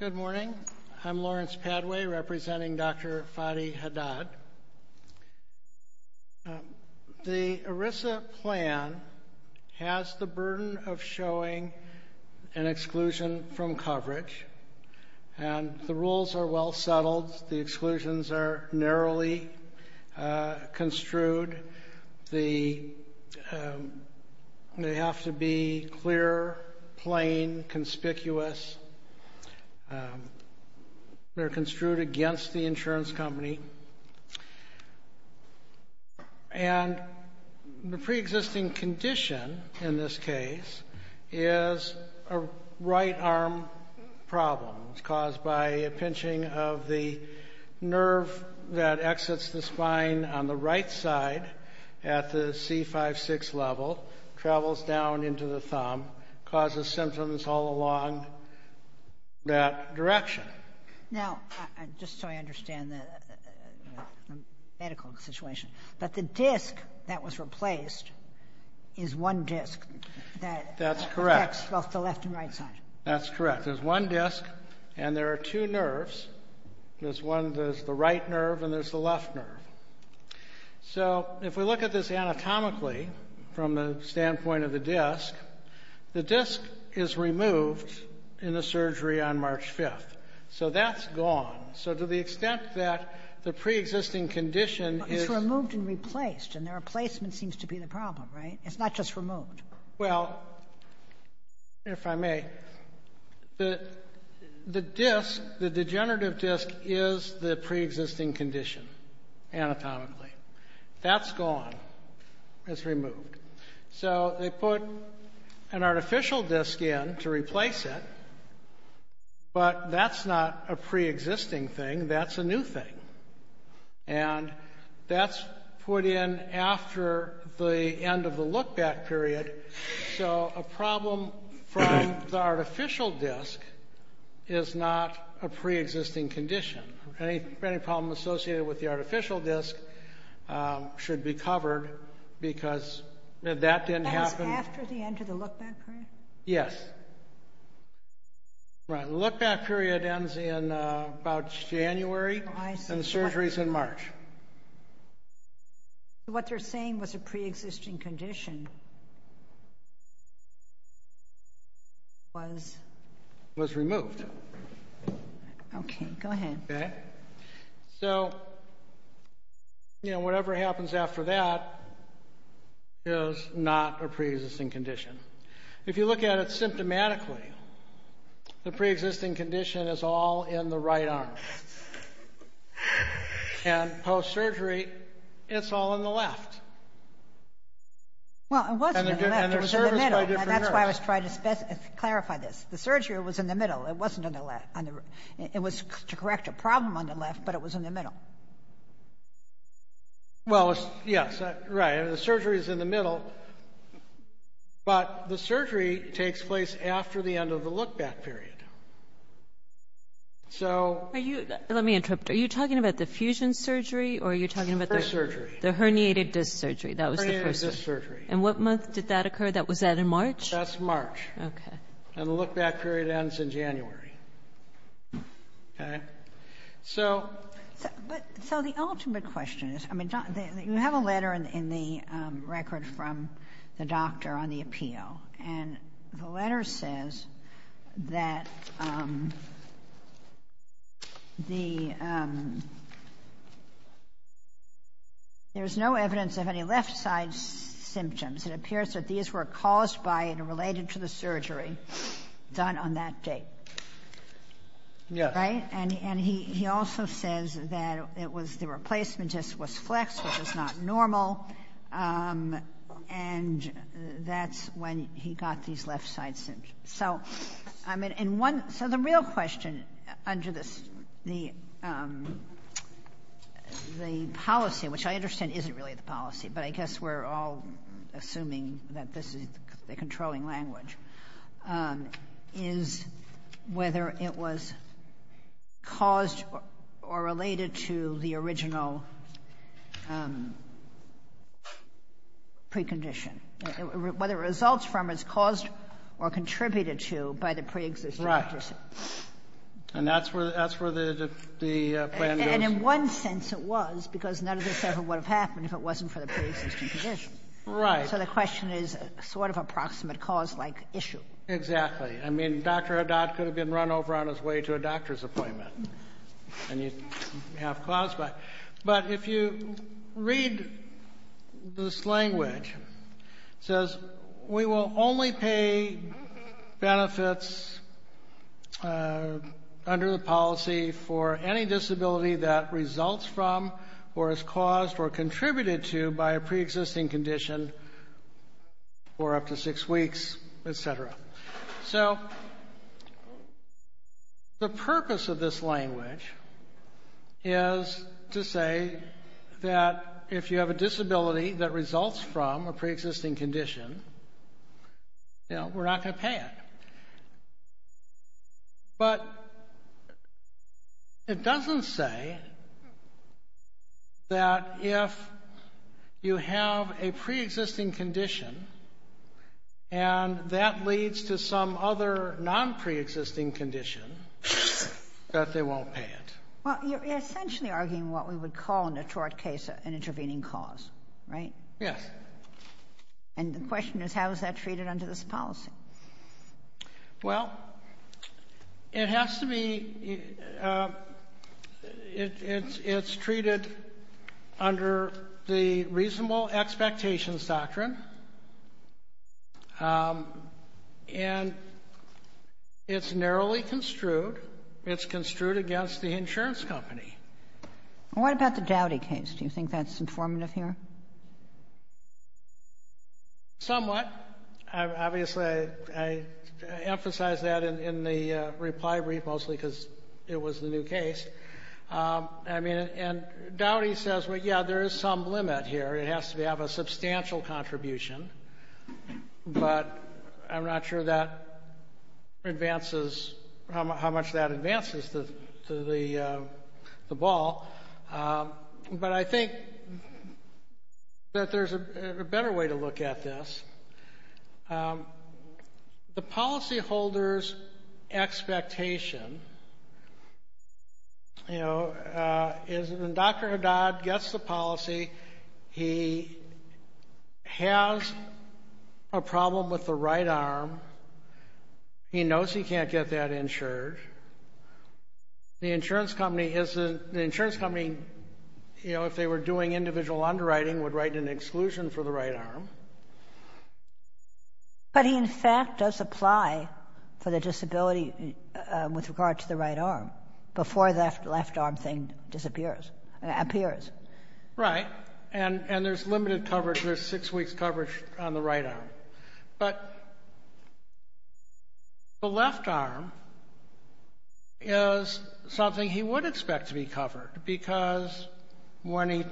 Good morning, I'm Lawrence Padway representing Dr. Fadi Haddad. The ERISA plan has the burden of showing an exclusion from coverage and the rules are well settled, the exclusions are narrowly construed, they have to be clear, plain, conspicuous, they're construed against the insurance company. And the pre-existing condition in this case is a right arm problem caused by a pinching of the nerve that exits the spine on the right side at the C5-6 level, travels down into the thumb, causes symptoms all along that direction. Now, just so I understand the medical situation, but the disc that was replaced is one disc that affects both the left and right side. That's correct. There's one disc and there are two nerves. There's one, there's the right nerve and there's the left nerve. So, if we look at this anatomically from the standpoint of the disc, the disc is removed in the surgery on March 5th, so that's gone. So, to the extent that the pre-existing condition is... But it's removed and replaced and their may... The disc, the degenerative disc, is the pre-existing condition anatomically. That's gone. It's removed. So, they put an artificial disc in to replace it, but that's not a pre-existing thing, that's a new thing. And that's put in after the end of the look-back period, so a problem from the artificial disc is not a pre-existing condition. Any problem associated with the artificial disc should be covered because that didn't happen... That was after the end of the look-back period ends in about January and the surgery's in March. What they're saying was a pre-existing condition was... Was removed. Okay, go ahead. Okay. So, you know, whatever happens after that is not a pre-existing condition. If you look at it symptomatically, the pre-existing condition is all in the right arm. And post-surgery, it's all in the left. Well, it wasn't in the left, it was in the middle, and that's why I was trying to clarify this. The surgery was in the middle, it wasn't in the left. It was to correct a problem on the left, but it was in the middle. Well, yes, right. The surgery's in the middle, but the surgery takes place after the end of the look-back period. So... Are you... Let me interrupt. Are you talking about the fusion surgery or are you talking about the... The first surgery. The herniated disc surgery. That was the first surgery. The herniated disc surgery. And what month did that occur? Was that in March? That's March. And the look-back period ends in January. Okay? So... But, so the ultimate question is, I mean, you have a letter in the record from the doctor on the appeal, and the letter says that there's no evidence of any left-side symptoms. It appears that these were caused by and related to the surgery done on that date. Yes. Right? And he also says that it was the replacement disc was flexed, which is not normal, and that's when he got these left-side symptoms. So, I mean, in one... So the real question under the policy, which I understand isn't really the policy, but I guess we're all assuming that this is the controlling language, is whether it was caused or related to the original precondition. Whether it results from, is caused, or contributed to by the preexisting condition. Right. And that's where the plan goes. And in one sense it was, because none of this ever would have happened if it wasn't for the preexisting condition. Right. So the question is sort of approximate cause-like issue. Exactly. I mean, Dr. Haddad could have been run over on his way to a doctor's appointment, and you'd have caused by it. But if you read this language, it says, we will only pay benefits under the policy for any disability that results from or is caused or contributed to by a preexisting condition for up to six weeks, etc. So, the purpose of this language is to say that if you have a disability that results from a preexisting condition, you know, we're not going to pay it. But it doesn't say that if you have a preexisting condition, and that leads to some other non-preexisting condition, that they won't pay it. Well, you're essentially arguing what we would call in a tort case an intervening cause, right? Yes. And the question is, how is that treated under this policy? Well, it has to be, it's treated under the reasonable expectations doctrine, and it's narrowly construed. It's construed against the insurance company. What about the Dowdy case? Do you think that's informative here? Somewhat. Obviously, I emphasize that in the reply brief, mostly because it was the new case. I mean, and Dowdy says, well, yeah, there is some limit here. It has to have a substantial contribution, but I'm not sure that advances, how much that advances to the ball. But I think that there's a better way to look at this. The policyholder's expectation, you know, is when Dr. Haddad gets the policy, he has a problem with the right arm. He knows he can't get that insured. The insurance company, you know, if they were doing individual underwriting, would write an exclusion for the right arm. But he, in fact, does apply for the disability with regard to the right arm before the left arm thing disappears, appears. Right. And there's limited coverage. There's six weeks coverage on the right arm. Right. But the left arm is something he would expect to be covered, because when he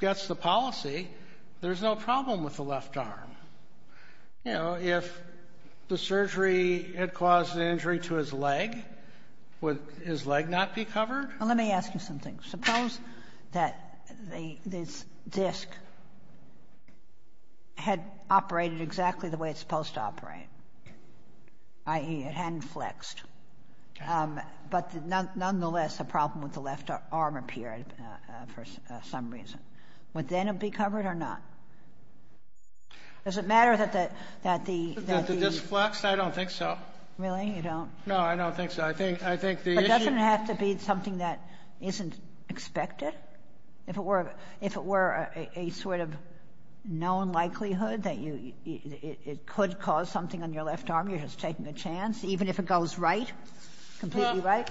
gets the policy, there's no problem with the left arm. You know, if the surgery had caused an injury to his leg, would his leg not be covered? Let me ask you something. Suppose that this disc had operated exactly the way it's supposed to operate, i.e., it hadn't flexed, but nonetheless a problem with the left arm appeared for some reason. Would then it be covered or not? Does it matter that the- That the disc flexed? I don't think so. Really? You don't? No, I don't think so. I think the issue- But doesn't it have to be something that isn't expected? If it were a sort of known likelihood that it could cause something on your left arm, you're just taking a chance, even if it goes right, completely right?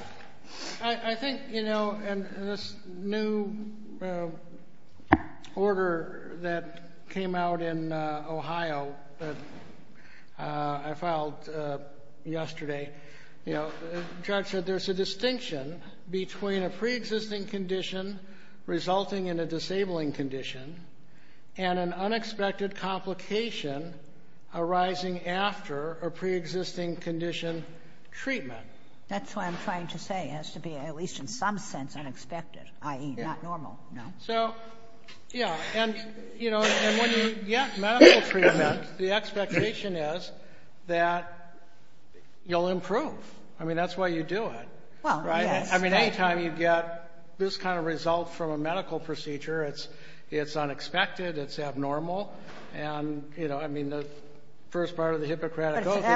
I think, you know, in this new order that came out in Ohio that I filed yesterday, you know, the judge said there's a distinction between a preexisting condition resulting in a disabling condition and an unexpected complication arising after a preexisting condition treatment. That's what I'm trying to say. It has to be at least in some sense unexpected, i.e., not normal. No? So, yeah. And, you know, when you get medical treatment, the expectation is that you'll improve. I mean, that's why you do it, right? Well, yes. I mean, any time you get this kind of result from a medical procedure, it's unexpected, it's abnormal. And, you know, I mean, the first part of the Hippocratic oath is- I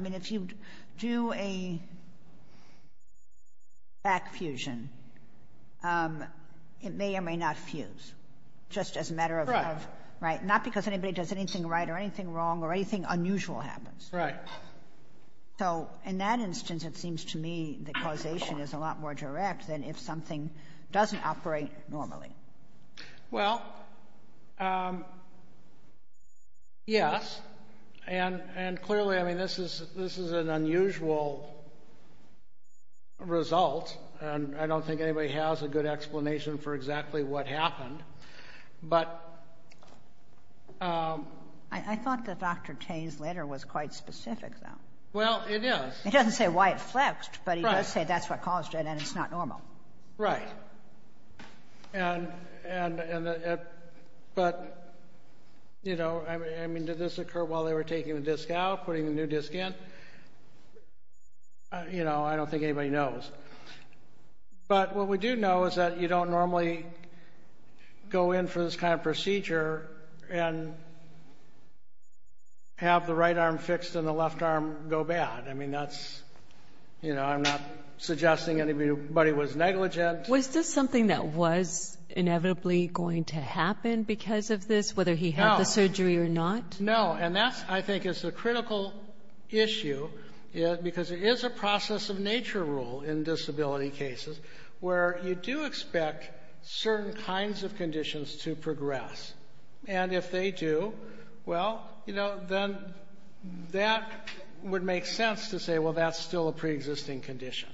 mean, if you do a back fusion, it may or may not fuse, just as a matter of- Right. Right, not because anybody does anything right or anything wrong or anything unusual happens. Right. So, in that instance, it seems to me that causation is a lot more direct than if something doesn't operate normally. Well, yes. And, clearly, I mean, this is an unusual result, and I don't think anybody has a good explanation for exactly what happened. But- I thought that Dr. Tay's letter was quite specific, though. Well, it is. He doesn't say why it flexed, but he does say that's what caused it and it's not normal. Right. And- But, you know, I mean, did this occur while they were taking the disc out, putting the new disc in? You know, I don't think anybody knows. But what we do know is that you don't normally go in for this kind of procedure and have the right arm fixed and the left arm go bad. I mean, that's- You know, I'm not suggesting anybody was negligent. Was this something that was inevitably going to happen because of this, whether he had the surgery or not? No. And that, I think, is the critical issue, because it is a process of nature rule in disability cases where you do expect certain kinds of conditions to progress. And if they do, well, you know, then that would make sense to say, well, that's still a preexisting condition.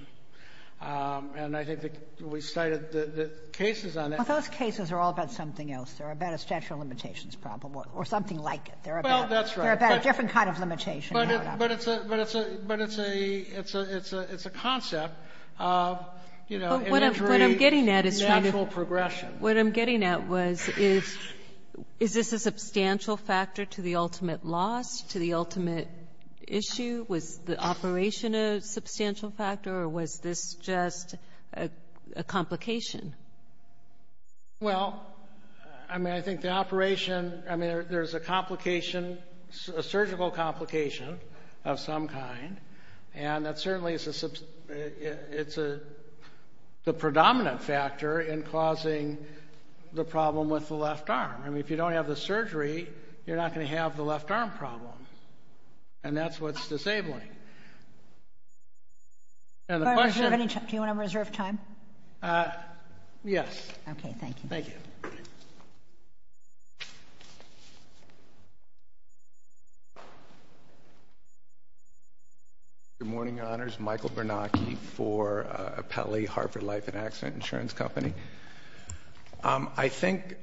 And I think that we cited the cases on that. Well, those cases are all about something else. They're about a statute of limitations problem or something like it. Well, that's right. They're about a different kind of limitation. But it's a concept of, you know, imagery- But what I'm getting at is trying to- Natural progression. What I'm getting at was, is this a substantial factor to the ultimate loss, to the ultimate issue? Was the operation a substantial factor, or was this just a complication? Well, I mean, I think the operation- I mean, there's a complication, a surgical complication of some kind, and that certainly is the predominant factor in causing the problem with the left arm. I mean, if you don't have the surgery, you're not going to have the left arm problem. And that's what's disabling. And the question- Do you want to reserve time? Yes. Okay, thank you. Thank you. Good morning, Your Honors. Michael Bernacchi for Pele, Harvard Life and Accident Insurance Company. I think,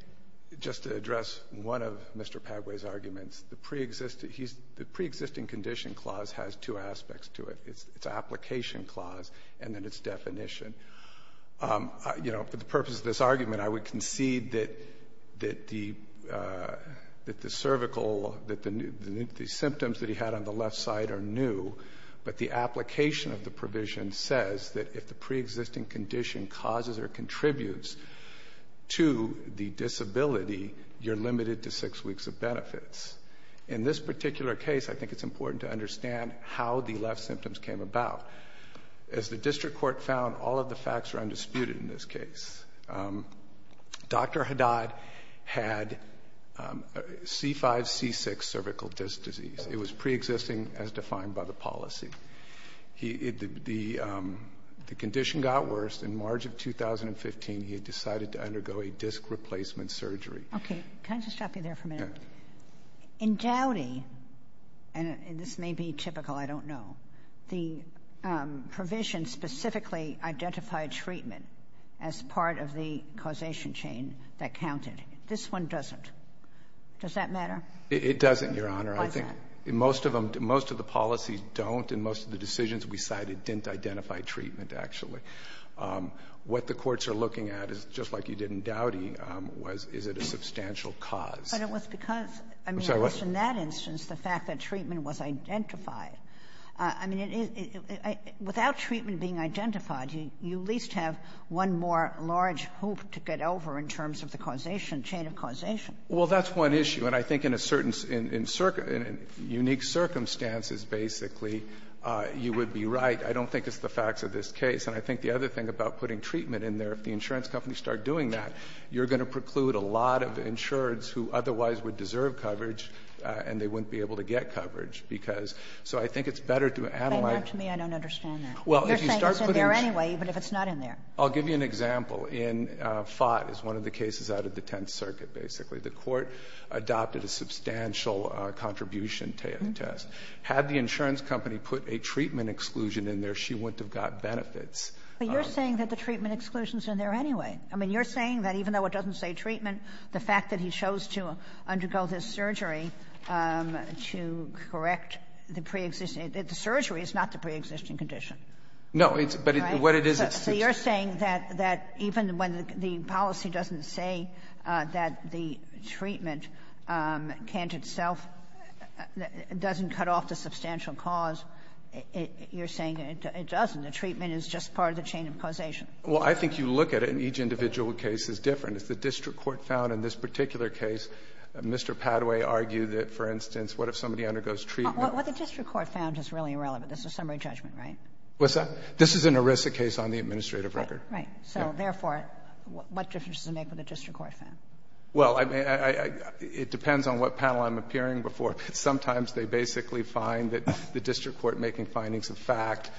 just to address one of Mr. Padway's arguments, the preexisting condition clause has two aspects to it. It's an application clause, and then it's definition. You know, for the purpose of this argument, I would concede that the cervical- that the symptoms that he had on the left side are new, but the application of the provision says that if the preexisting condition causes or contributes to the disability, you're limited to six weeks of benefits. In this particular case, I think it's important to understand how the left symptoms came about. As the district court found, all of the facts are undisputed in this case. Dr. Haddad had C5-C6 cervical disc disease. It was preexisting as defined by the policy. The condition got worse. In March of 2015, he had decided to undergo a disc replacement surgery. Okay. Can I just stop you there for a minute? Yeah. In Dowdy, and this may be typical, I don't know, the provision specifically identified treatment as part of the causation chain that counted. This one doesn't. Does that matter? It doesn't, Your Honor. I think most of them, most of the policies don't, and most of the decisions we cited didn't identify treatment, actually. What the courts are looking at is, just like you did in Dowdy, was is it a substantial cause? But it was because, I mean, it was in that instance the fact that treatment was identified. I mean, without treatment being identified, you at least have one more large hoop to get over in terms of the causation, chain of causation. Well, that's one issue. And I think in a certain unique circumstances, basically, you would be right. I don't think it's the facts of this case. And I think the other thing about putting treatment in there, if the insurance companies start doing that, you're going to preclude a lot of insureds who otherwise would deserve coverage, and they wouldn't be able to get coverage, because so I think it's better to analyze. But to me, I don't understand that. You're saying it's in there anyway, even if it's not in there. I'll give you an example. In Fott, it's one of the cases out of the Tenth Circuit, basically. The court adopted a substantial contribution to the test. Had the insurance company put a treatment exclusion in there, she wouldn't have got benefits. But you're saying that the treatment exclusion is in there anyway. I mean, you're saying that even though it doesn't say treatment, the fact that he chose to undergo this surgery to correct the preexisting – the surgery is not the preexisting condition. So you're saying that even when the policy doesn't say that the treatment can't itself – doesn't cut off the substantial cause, you're saying it doesn't. The treatment is just part of the chain of causation. Well, I think you look at it, and each individual case is different. As the district court found in this particular case, Mr. Padaway argued that, for instance, what if somebody undergoes treatment? What the district court found is really irrelevant. This is summary judgment, right? What's that? This is an ERISA case on the administrative record. Right. So therefore, what difference does it make what the district court found? Well, I mean, it depends on what panel I'm appearing before. Sometimes they basically find that the district court making findings of fact,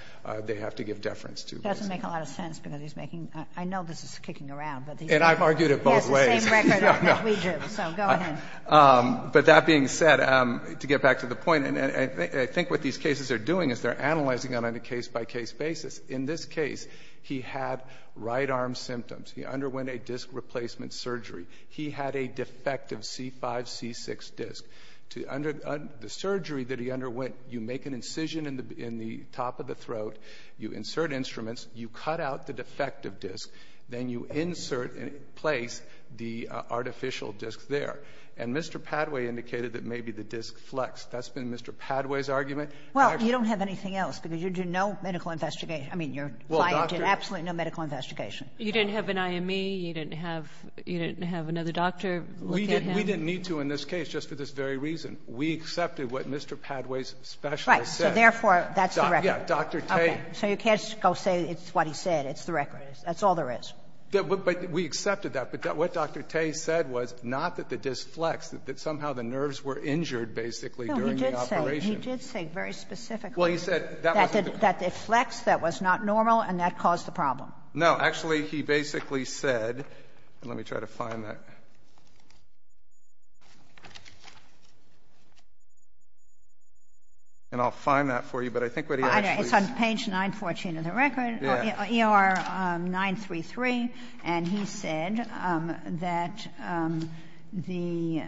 they have to give deference to. It doesn't make a lot of sense, because he's making – I know this is kicking around, but these are – And I've argued it both ways. Yes, the same record that we do. So go ahead. But that being said, to get back to the point, and I think what these cases are doing is they're analyzing it on a case-by-case basis. In this case, he had right arm symptoms. He underwent a disc replacement surgery. He had a defective C5-C6 disc. Under the surgery that he underwent, you make an incision in the top of the throat, you insert instruments, you cut out the defective disc, then you insert and place the artificial disc there. And Mr. Padaway indicated that maybe the disc flexed. That's been Mr. Padaway's argument. Well, you don't have anything else, because you do no medical investigation. I mean, your client did absolutely no medical investigation. You didn't have an IME. You didn't have another doctor looking at him. We didn't need to in this case, just for this very reason. We accepted what Mr. Padaway's specialist said. Right. So therefore, that's the record. Yeah. Dr. Tay. Okay. So you can't go say it's what he said. It's the record. That's all there is. But we accepted that. But what Dr. Tay said was not that the disc flexed, that somehow the nerves were injured, basically, during the operation. He did say very specifically that it flexed, that was not normal, and that caused the problem. No. Actually, he basically said, and let me try to find that. And I'll find that for you. But I think what he actually said. It's on page 914 of the record, ER 933. And he said that the,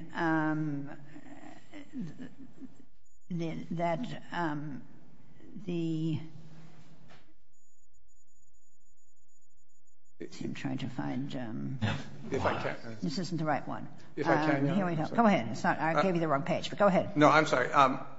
that the, I'm trying to find. If I can. This isn't the right one. If I can. Go ahead. I gave you the wrong page, but go ahead. No, I'm sorry.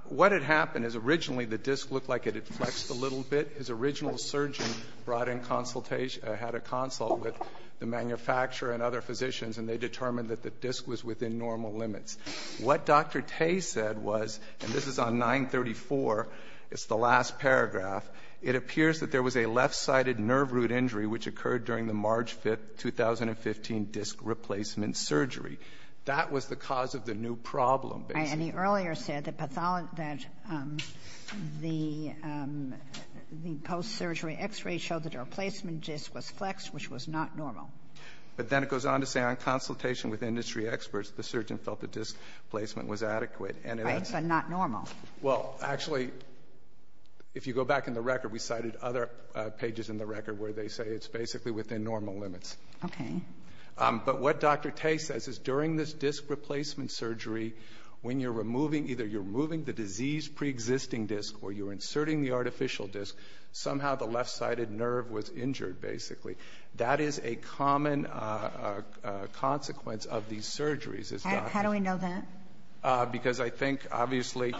What had happened is, originally, the disc looked like it had flexed a little bit. His original surgeon brought in consultation, had a consult with the manufacturer and other physicians, and they determined that the disc was within normal limits. What Dr. Tay said was, and this is on 934, it's the last paragraph, it appears that there was a left-sided nerve root injury which occurred during the March 5th, 2015 disc replacement surgery. That was the cause of the new problem, basically. And he earlier said that the post-surgery x-ray showed that our placement disc was flexed, which was not normal. But then it goes on to say, on consultation with industry experts, the surgeon felt the disc placement was adequate. Right, but not normal. Well, actually, if you go back in the record, we cited other pages in the record where they say it's basically within normal limits. Okay. But what Dr. Tay says is during this disc replacement surgery, when you're removing either you're removing the disease preexisting disc or you're inserting the artificial disc, somehow the left-sided nerve was injured, basically. That is a common consequence of these surgeries, as Dr. Tay said. How do we know that? Because I think, obviously,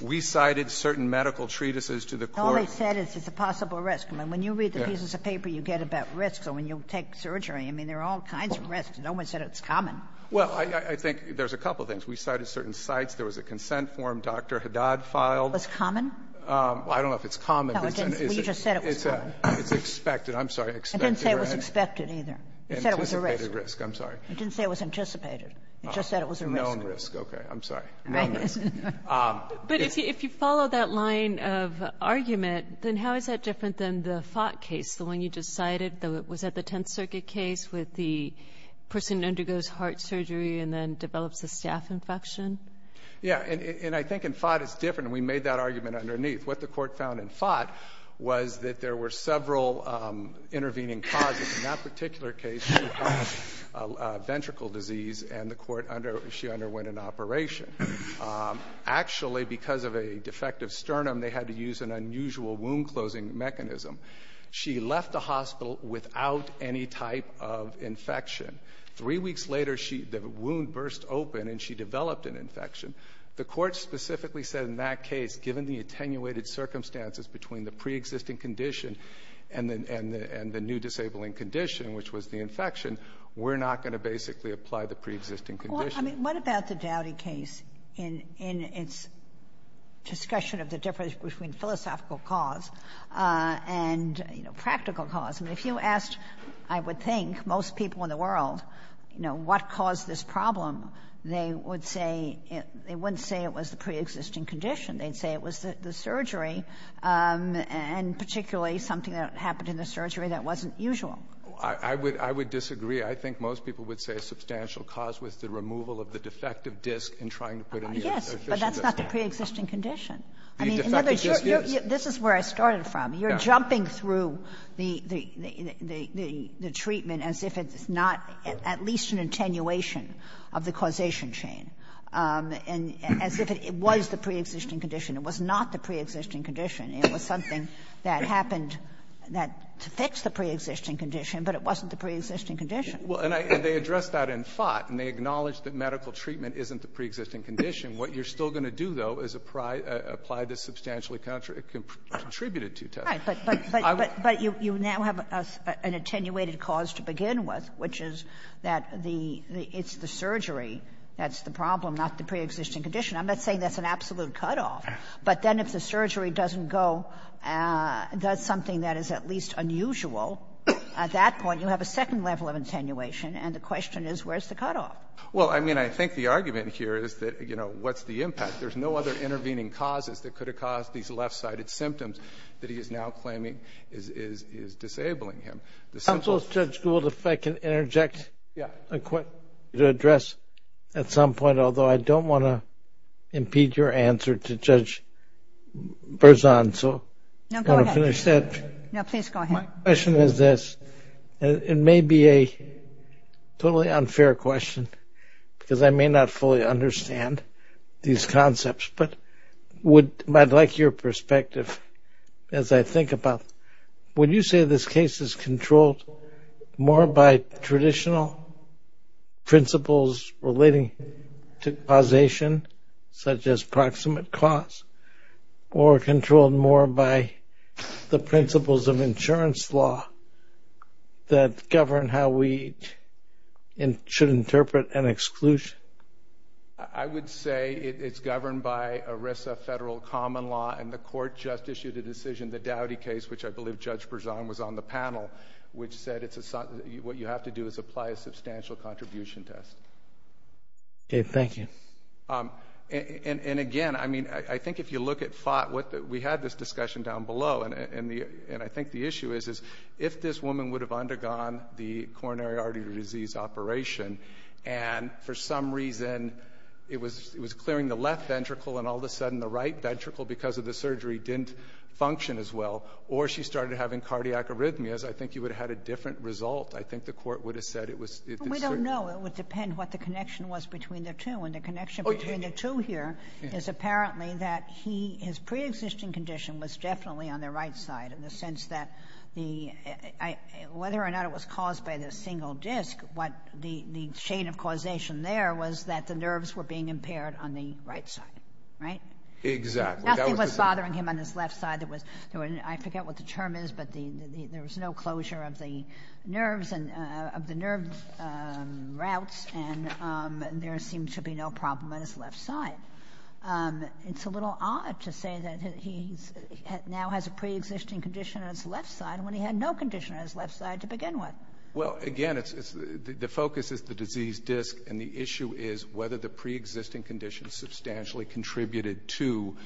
we cited certain medical treatises to the court. All they said is it's a possible risk. When you read the pieces of paper, you get about risks. So when you take surgery, I mean, there are all kinds of risks. No one said it's common. Well, I think there's a couple of things. We cited certain sites. There was a consent form Dr. Haddad filed. Was common? I don't know if it's common. No, you just said it was common. It's expected. I'm sorry. I didn't say it was expected either. You said it was a risk. Anticipated risk. I'm sorry. You didn't say it was anticipated. You just said it was a risk. Known risk. Okay. I'm sorry. Known risk. But if you follow that line of argument, then how is that different than the Fott case, the one you just cited? Was that the Tenth Circuit case with the person who undergoes heart surgery and then develops a staph infection? Yeah. And I think in Fott, it's different. And we made that argument underneath. What the court found in Fott was that there were several intervening causes. In that particular case, she had ventricle disease, and she underwent an operation. Actually, because of a defective sternum, they had to use an unusual wound-closing mechanism. She left the hospital without any type of infection. Three weeks later, the wound burst open, and she developed an infection. The court specifically said in that case, given the attenuated circumstances between the preexisting condition and the new disabling condition, which was the infection, we're not going to basically apply the preexisting condition. Well, I mean, what about the Dowdy case in its discussion of the difference between philosophical cause and, you know, practical cause? I mean, if you asked, I would think, most people in the world, you know, what caused this problem, they would say they wouldn't say it was the preexisting condition. They'd say it was the surgery, and particularly something that happened in the surgery that wasn't usual. I would disagree. I think most people would say a substantial cause was the removal of the defective disc in trying to put in the official disc. Yes, but that's not the preexisting condition. The defective disc is. This is where I started from. You're jumping through the treatment as if it's not at least an attenuation of the causation chain, and as if it was the preexisting condition. It was not the preexisting condition. It was something that happened that affected the preexisting condition, but it wasn't the preexisting condition. Well, and they addressed that in Fott, and they acknowledged that medical treatment isn't the preexisting condition. What you're still going to do, though, is apply this substantially contributed to you, Tess. But you now have an attenuated cause to begin with, which is that the — it's the surgery that's the problem, not the preexisting condition. I'm not saying that's an absolute cutoff, but then if the surgery doesn't go — does something that is at least unusual, at that point you have a second level of attenuation, and the question is where's the cutoff? Well, I mean, I think the argument here is that, you know, what's the impact? There's no other intervening causes that could have caused these left-sided symptoms that he is now claiming is disabling him. The simple — Counsel, if Judge Gould, if I can interject a quick — to address at some point, although I don't want to impede your answer to Judge Berzon, so — No, go ahead. — I'm going to finish that. No, please go ahead. My question is this. It may be a totally unfair question, because I may not fully understand these concepts, but would — I'd like your perspective, as I think about — would you say this case is controlled more by traditional principles relating to causation, such as proximate cause, or controlled more by the principles of insurance law that govern how we should interpret an exclusion? I would say it's governed by ERISA federal common law, and the court just issued a decision, the Dowdy case, which I believe Judge Berzon was on the panel, which said it's a — what you have to do is apply a substantial contribution test. Okay, thank you. And again, I mean, I think if you look at — we had this discussion down below, and I think the issue is, is if this woman would have undergone the coronary artery disease operation, and for some reason it was clearing the left ventricle, and all of a sudden the right ventricle, because of the surgery, didn't function as well, or she started having cardiac arrhythmias, I think you would have had a different result. I think the court would have said it was — No, it would depend what the connection was between the two. And the connection between the two here is apparently that he — his preexisting condition was definitely on the right side, in the sense that the — whether or not it was caused by the single disc, what — the chain of causation there was that the nerves were being impaired on the right side, right? Exactly. Nothing was bothering him on his left side that was — I forget what the term is, but there was no closure of the nerves and — of the nerve routes, and there seemed to be no problem on his left side. It's a little odd to say that he now has a preexisting condition on his left side, when he had no condition on his left side to begin with. Well, again, it's — the focus is the disease disc, and the issue is whether the preexisting condition substantially contributed to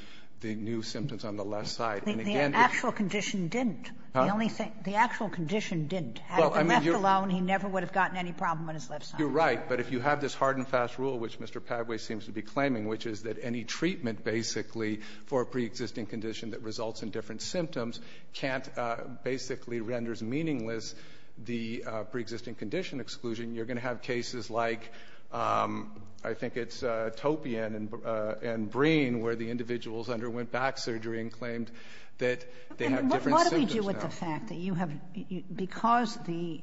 the new symptoms on the left side. The actual condition didn't. The only thing — the actual condition didn't. Had it been left alone, he never would have gotten any problem on his left side. You're right. But if you have this hard-and-fast rule, which Mr. Padway seems to be claiming, which is that any treatment, basically, for a preexisting condition that results in different symptoms can't — basically renders meaningless the preexisting condition exclusion, you're going to have cases like — I think it's Topian and Breen, where the individuals underwent back surgery and claimed that they have different symptoms now. What do we do with the fact that you have — because the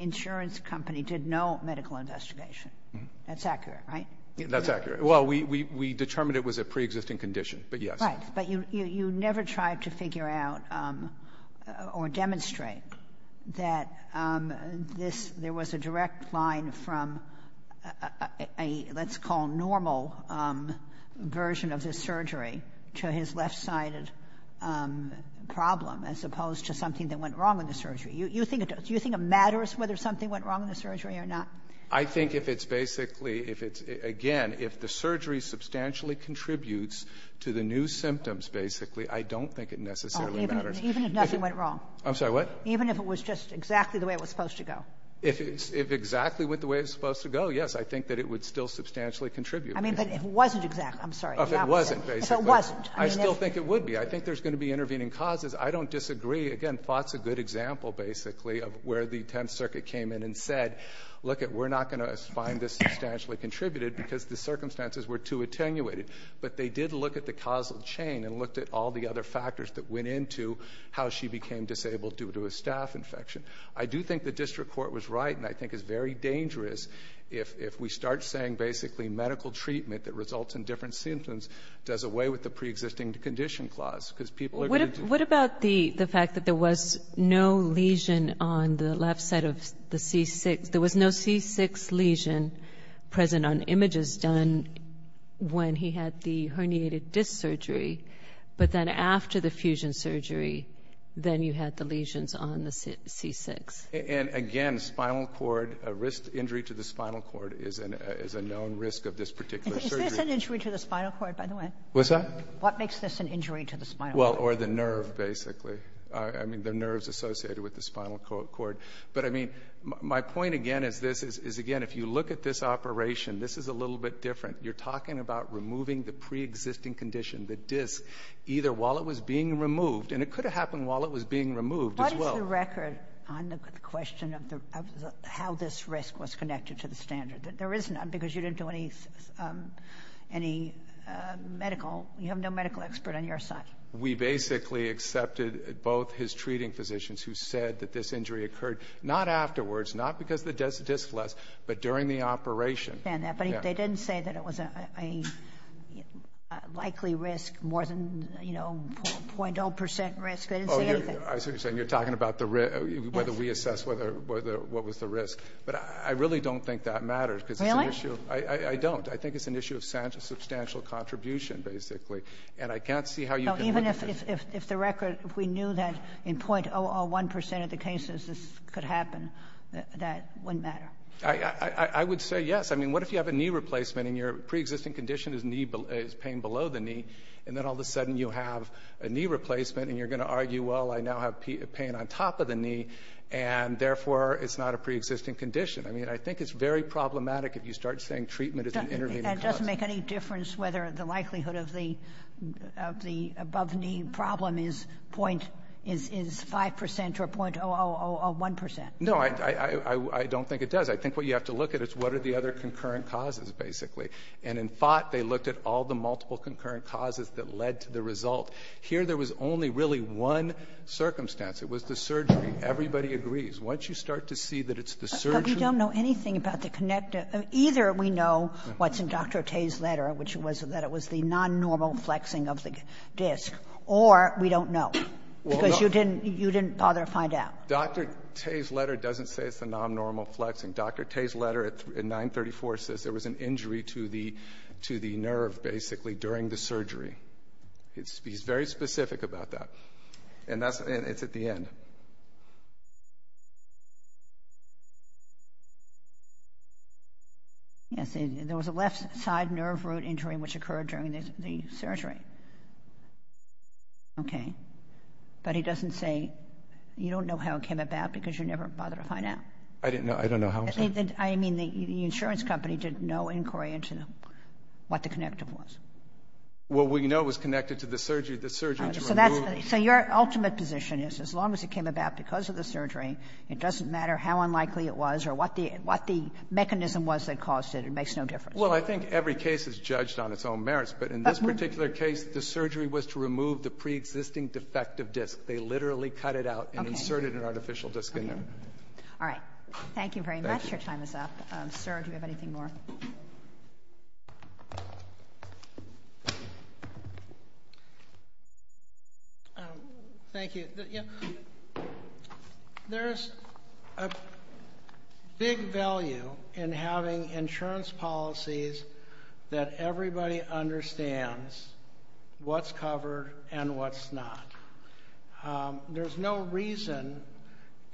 insurance company did no medical investigation — that's accurate, right? That's accurate. Well, we determined it was a preexisting condition, but yes. Right, but you never tried to figure out or demonstrate that this — that this was going from a, let's call, normal version of the surgery to his left-sided problem, as opposed to something that went wrong in the surgery. Do you think it matters whether something went wrong in the surgery or not? I think if it's basically — if it's — again, if the surgery substantially contributes to the new symptoms, basically, I don't think it necessarily matters. Even if nothing went wrong? I'm sorry, what? Even if it was just exactly the way it was supposed to go? If it exactly went the way it was supposed to go, yes, I think that it would still substantially contribute. I mean, but if it wasn't exactly — I'm sorry. If it wasn't, basically. If it wasn't. I still think it would be. I think there's going to be intervening causes. I don't disagree. Again, Fott's a good example, basically, of where the Tenth Circuit came in and said, lookit, we're not going to find this substantially contributed because the circumstances were too attenuated. But they did look at the causal chain and looked at all the other factors that went into how she became disabled due to a staph infection. I do think the district court was right, and I think it's very dangerous if we start saying, basically, medical treatment that results in different symptoms does away with the pre-existing condition clause because people are going to — What about the fact that there was no lesion on the left side of the C6 — there was no C6 lesion present on images done when he had the herniated disc surgery, but then after the fusion surgery, then you had the lesions on the C6. And, again, spinal cord — a risk injury to the spinal cord is a known risk of this particular surgery. Is this an injury to the spinal cord, by the way? What's that? What makes this an injury to the spinal cord? Well, or the nerve, basically. I mean, the nerves associated with the spinal cord. But, I mean, my point, again, is this, is, again, if you look at this operation, this is a little bit different. You're talking about removing the pre-existing condition, the disc, either while it was being removed — and it could have happened while it was being removed, as well. What is the record on the question of how this risk was connected to the standard? There is none because you didn't do any medical — you have no medical expert on your side. We basically accepted both his treating physicians who said that this injury occurred, not afterwards, not because the disc was less, but during the operation. I understand that, but they didn't say that it was a likely risk more than, you know, 0.0% risk. They didn't say anything. Oh, I see what you're saying. You're talking about the risk, whether we assess what was the risk. But I really don't think that matters because it's an issue — Really? I don't. I think it's an issue of substantial contribution, basically. And I can't see how you can — No, even if the record — if we knew that in 0.001% of the cases this could happen, that wouldn't matter. I would say yes. I mean, what if you have a knee replacement and your preexisting condition is knee — is pain below the knee, and then all of a sudden you have a knee replacement and you're going to argue, well, I now have pain on top of the knee, and therefore it's not a preexisting condition. I mean, I think it's very problematic if you start saying treatment is an intervening cause. It doesn't make any difference whether the likelihood of the above-knee problem is 0.5% or 0.001%. No, I don't think it does. I think what you have to look at is what are the other concurrent causes, basically. And in Fott, they looked at all the multiple concurrent causes that led to the result. Here there was only really one circumstance. It was the surgery. Everybody agrees. Once you start to see that it's the surgery — But we don't know anything about the connective — either we know what's in Dr. Tay's letter, which was that it was the non-normal flexing of the disc, or we don't know, because you didn't — you didn't bother to find out. Dr. Tay's letter doesn't say it's the non-normal flexing. Dr. Tay's letter at 934 says there was an injury to the nerve, basically, during the surgery. He's very specific about that. And that's — it's at the end. Yes, there was a left-side nerve root injury which occurred during the surgery. Okay. But he doesn't say — you don't know how it came about, because you never bothered to find out. I didn't know. I don't know how. I mean, the insurance company did no inquiry into what the connective was. Well, we know it was connected to the surgery. The surgery to remove — So that's — so your ultimate position is, as long as it came about because of the surgery, it doesn't matter how unlikely it was or what the — what the mechanism was that caused it. It makes no difference. Well, I think every case is judged on its own merits. But in this particular case, the surgery was to remove the preexisting defective disc. They literally cut it out and inserted an artificial disc in there. Okay. Okay. All right. Thank you very much. Your time is up. Sir, do you have anything more? Thank you. There's a big value in having insurance policies that everybody understands what's covered and what's not. There's no reason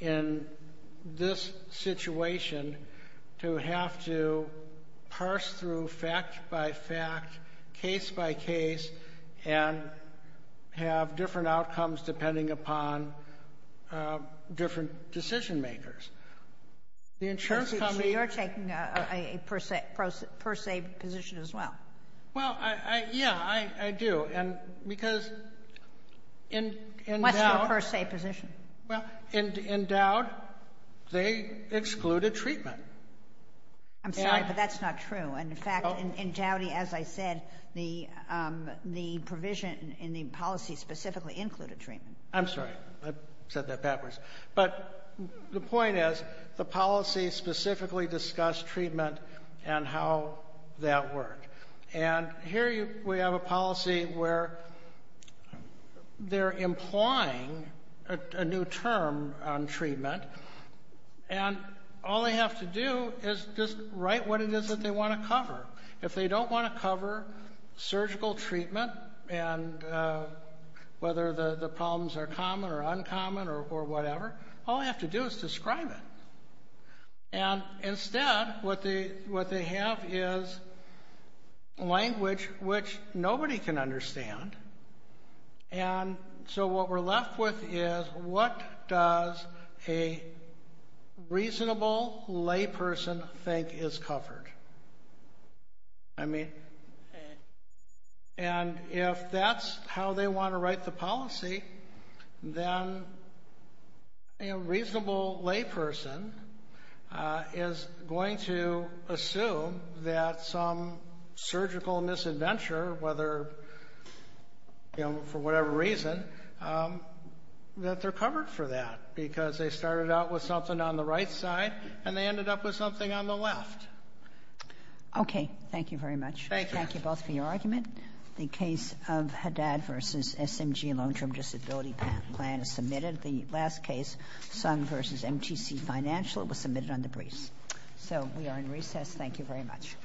in this situation to have to parse through fact by fact, case by case, and have different outcomes depending upon different decision makers. The insurance company — So you're taking a per se position as well? Well, yeah, I do. And because in doubt — What's your per se position? Well, in doubt, they excluded treatment. I'm sorry, but that's not true. In fact, in Dowdy, as I said, the provision in the policy specifically included treatment. I'm sorry. I said that backwards. But the point is, the policy specifically discussed treatment and how that worked. And here we have a policy where they're implying a new term on treatment. And all they have to do is just write what it is that they want to cover. If they don't want to cover surgical treatment and whether the problems are common or uncommon or whatever, all they have to do is describe it. And instead, what they have is language which nobody can understand. And so what we're left with is, what does a reasonable layperson think is covered? And if that's how they want to write the policy, then a reasonable layperson is going to assume that some surgical misadventure, whether for whatever reason, that they're covered for that because they started out with something on the right side and they ended up with something on the left. Okay. Thank you very much. Thank you. Thank you both for your argument. The case of Haddad v. SMG long-term disability plan is submitted. The last case, Sung v. MTC Financial, was submitted on the briefs. So we are in recess. Thank you very much.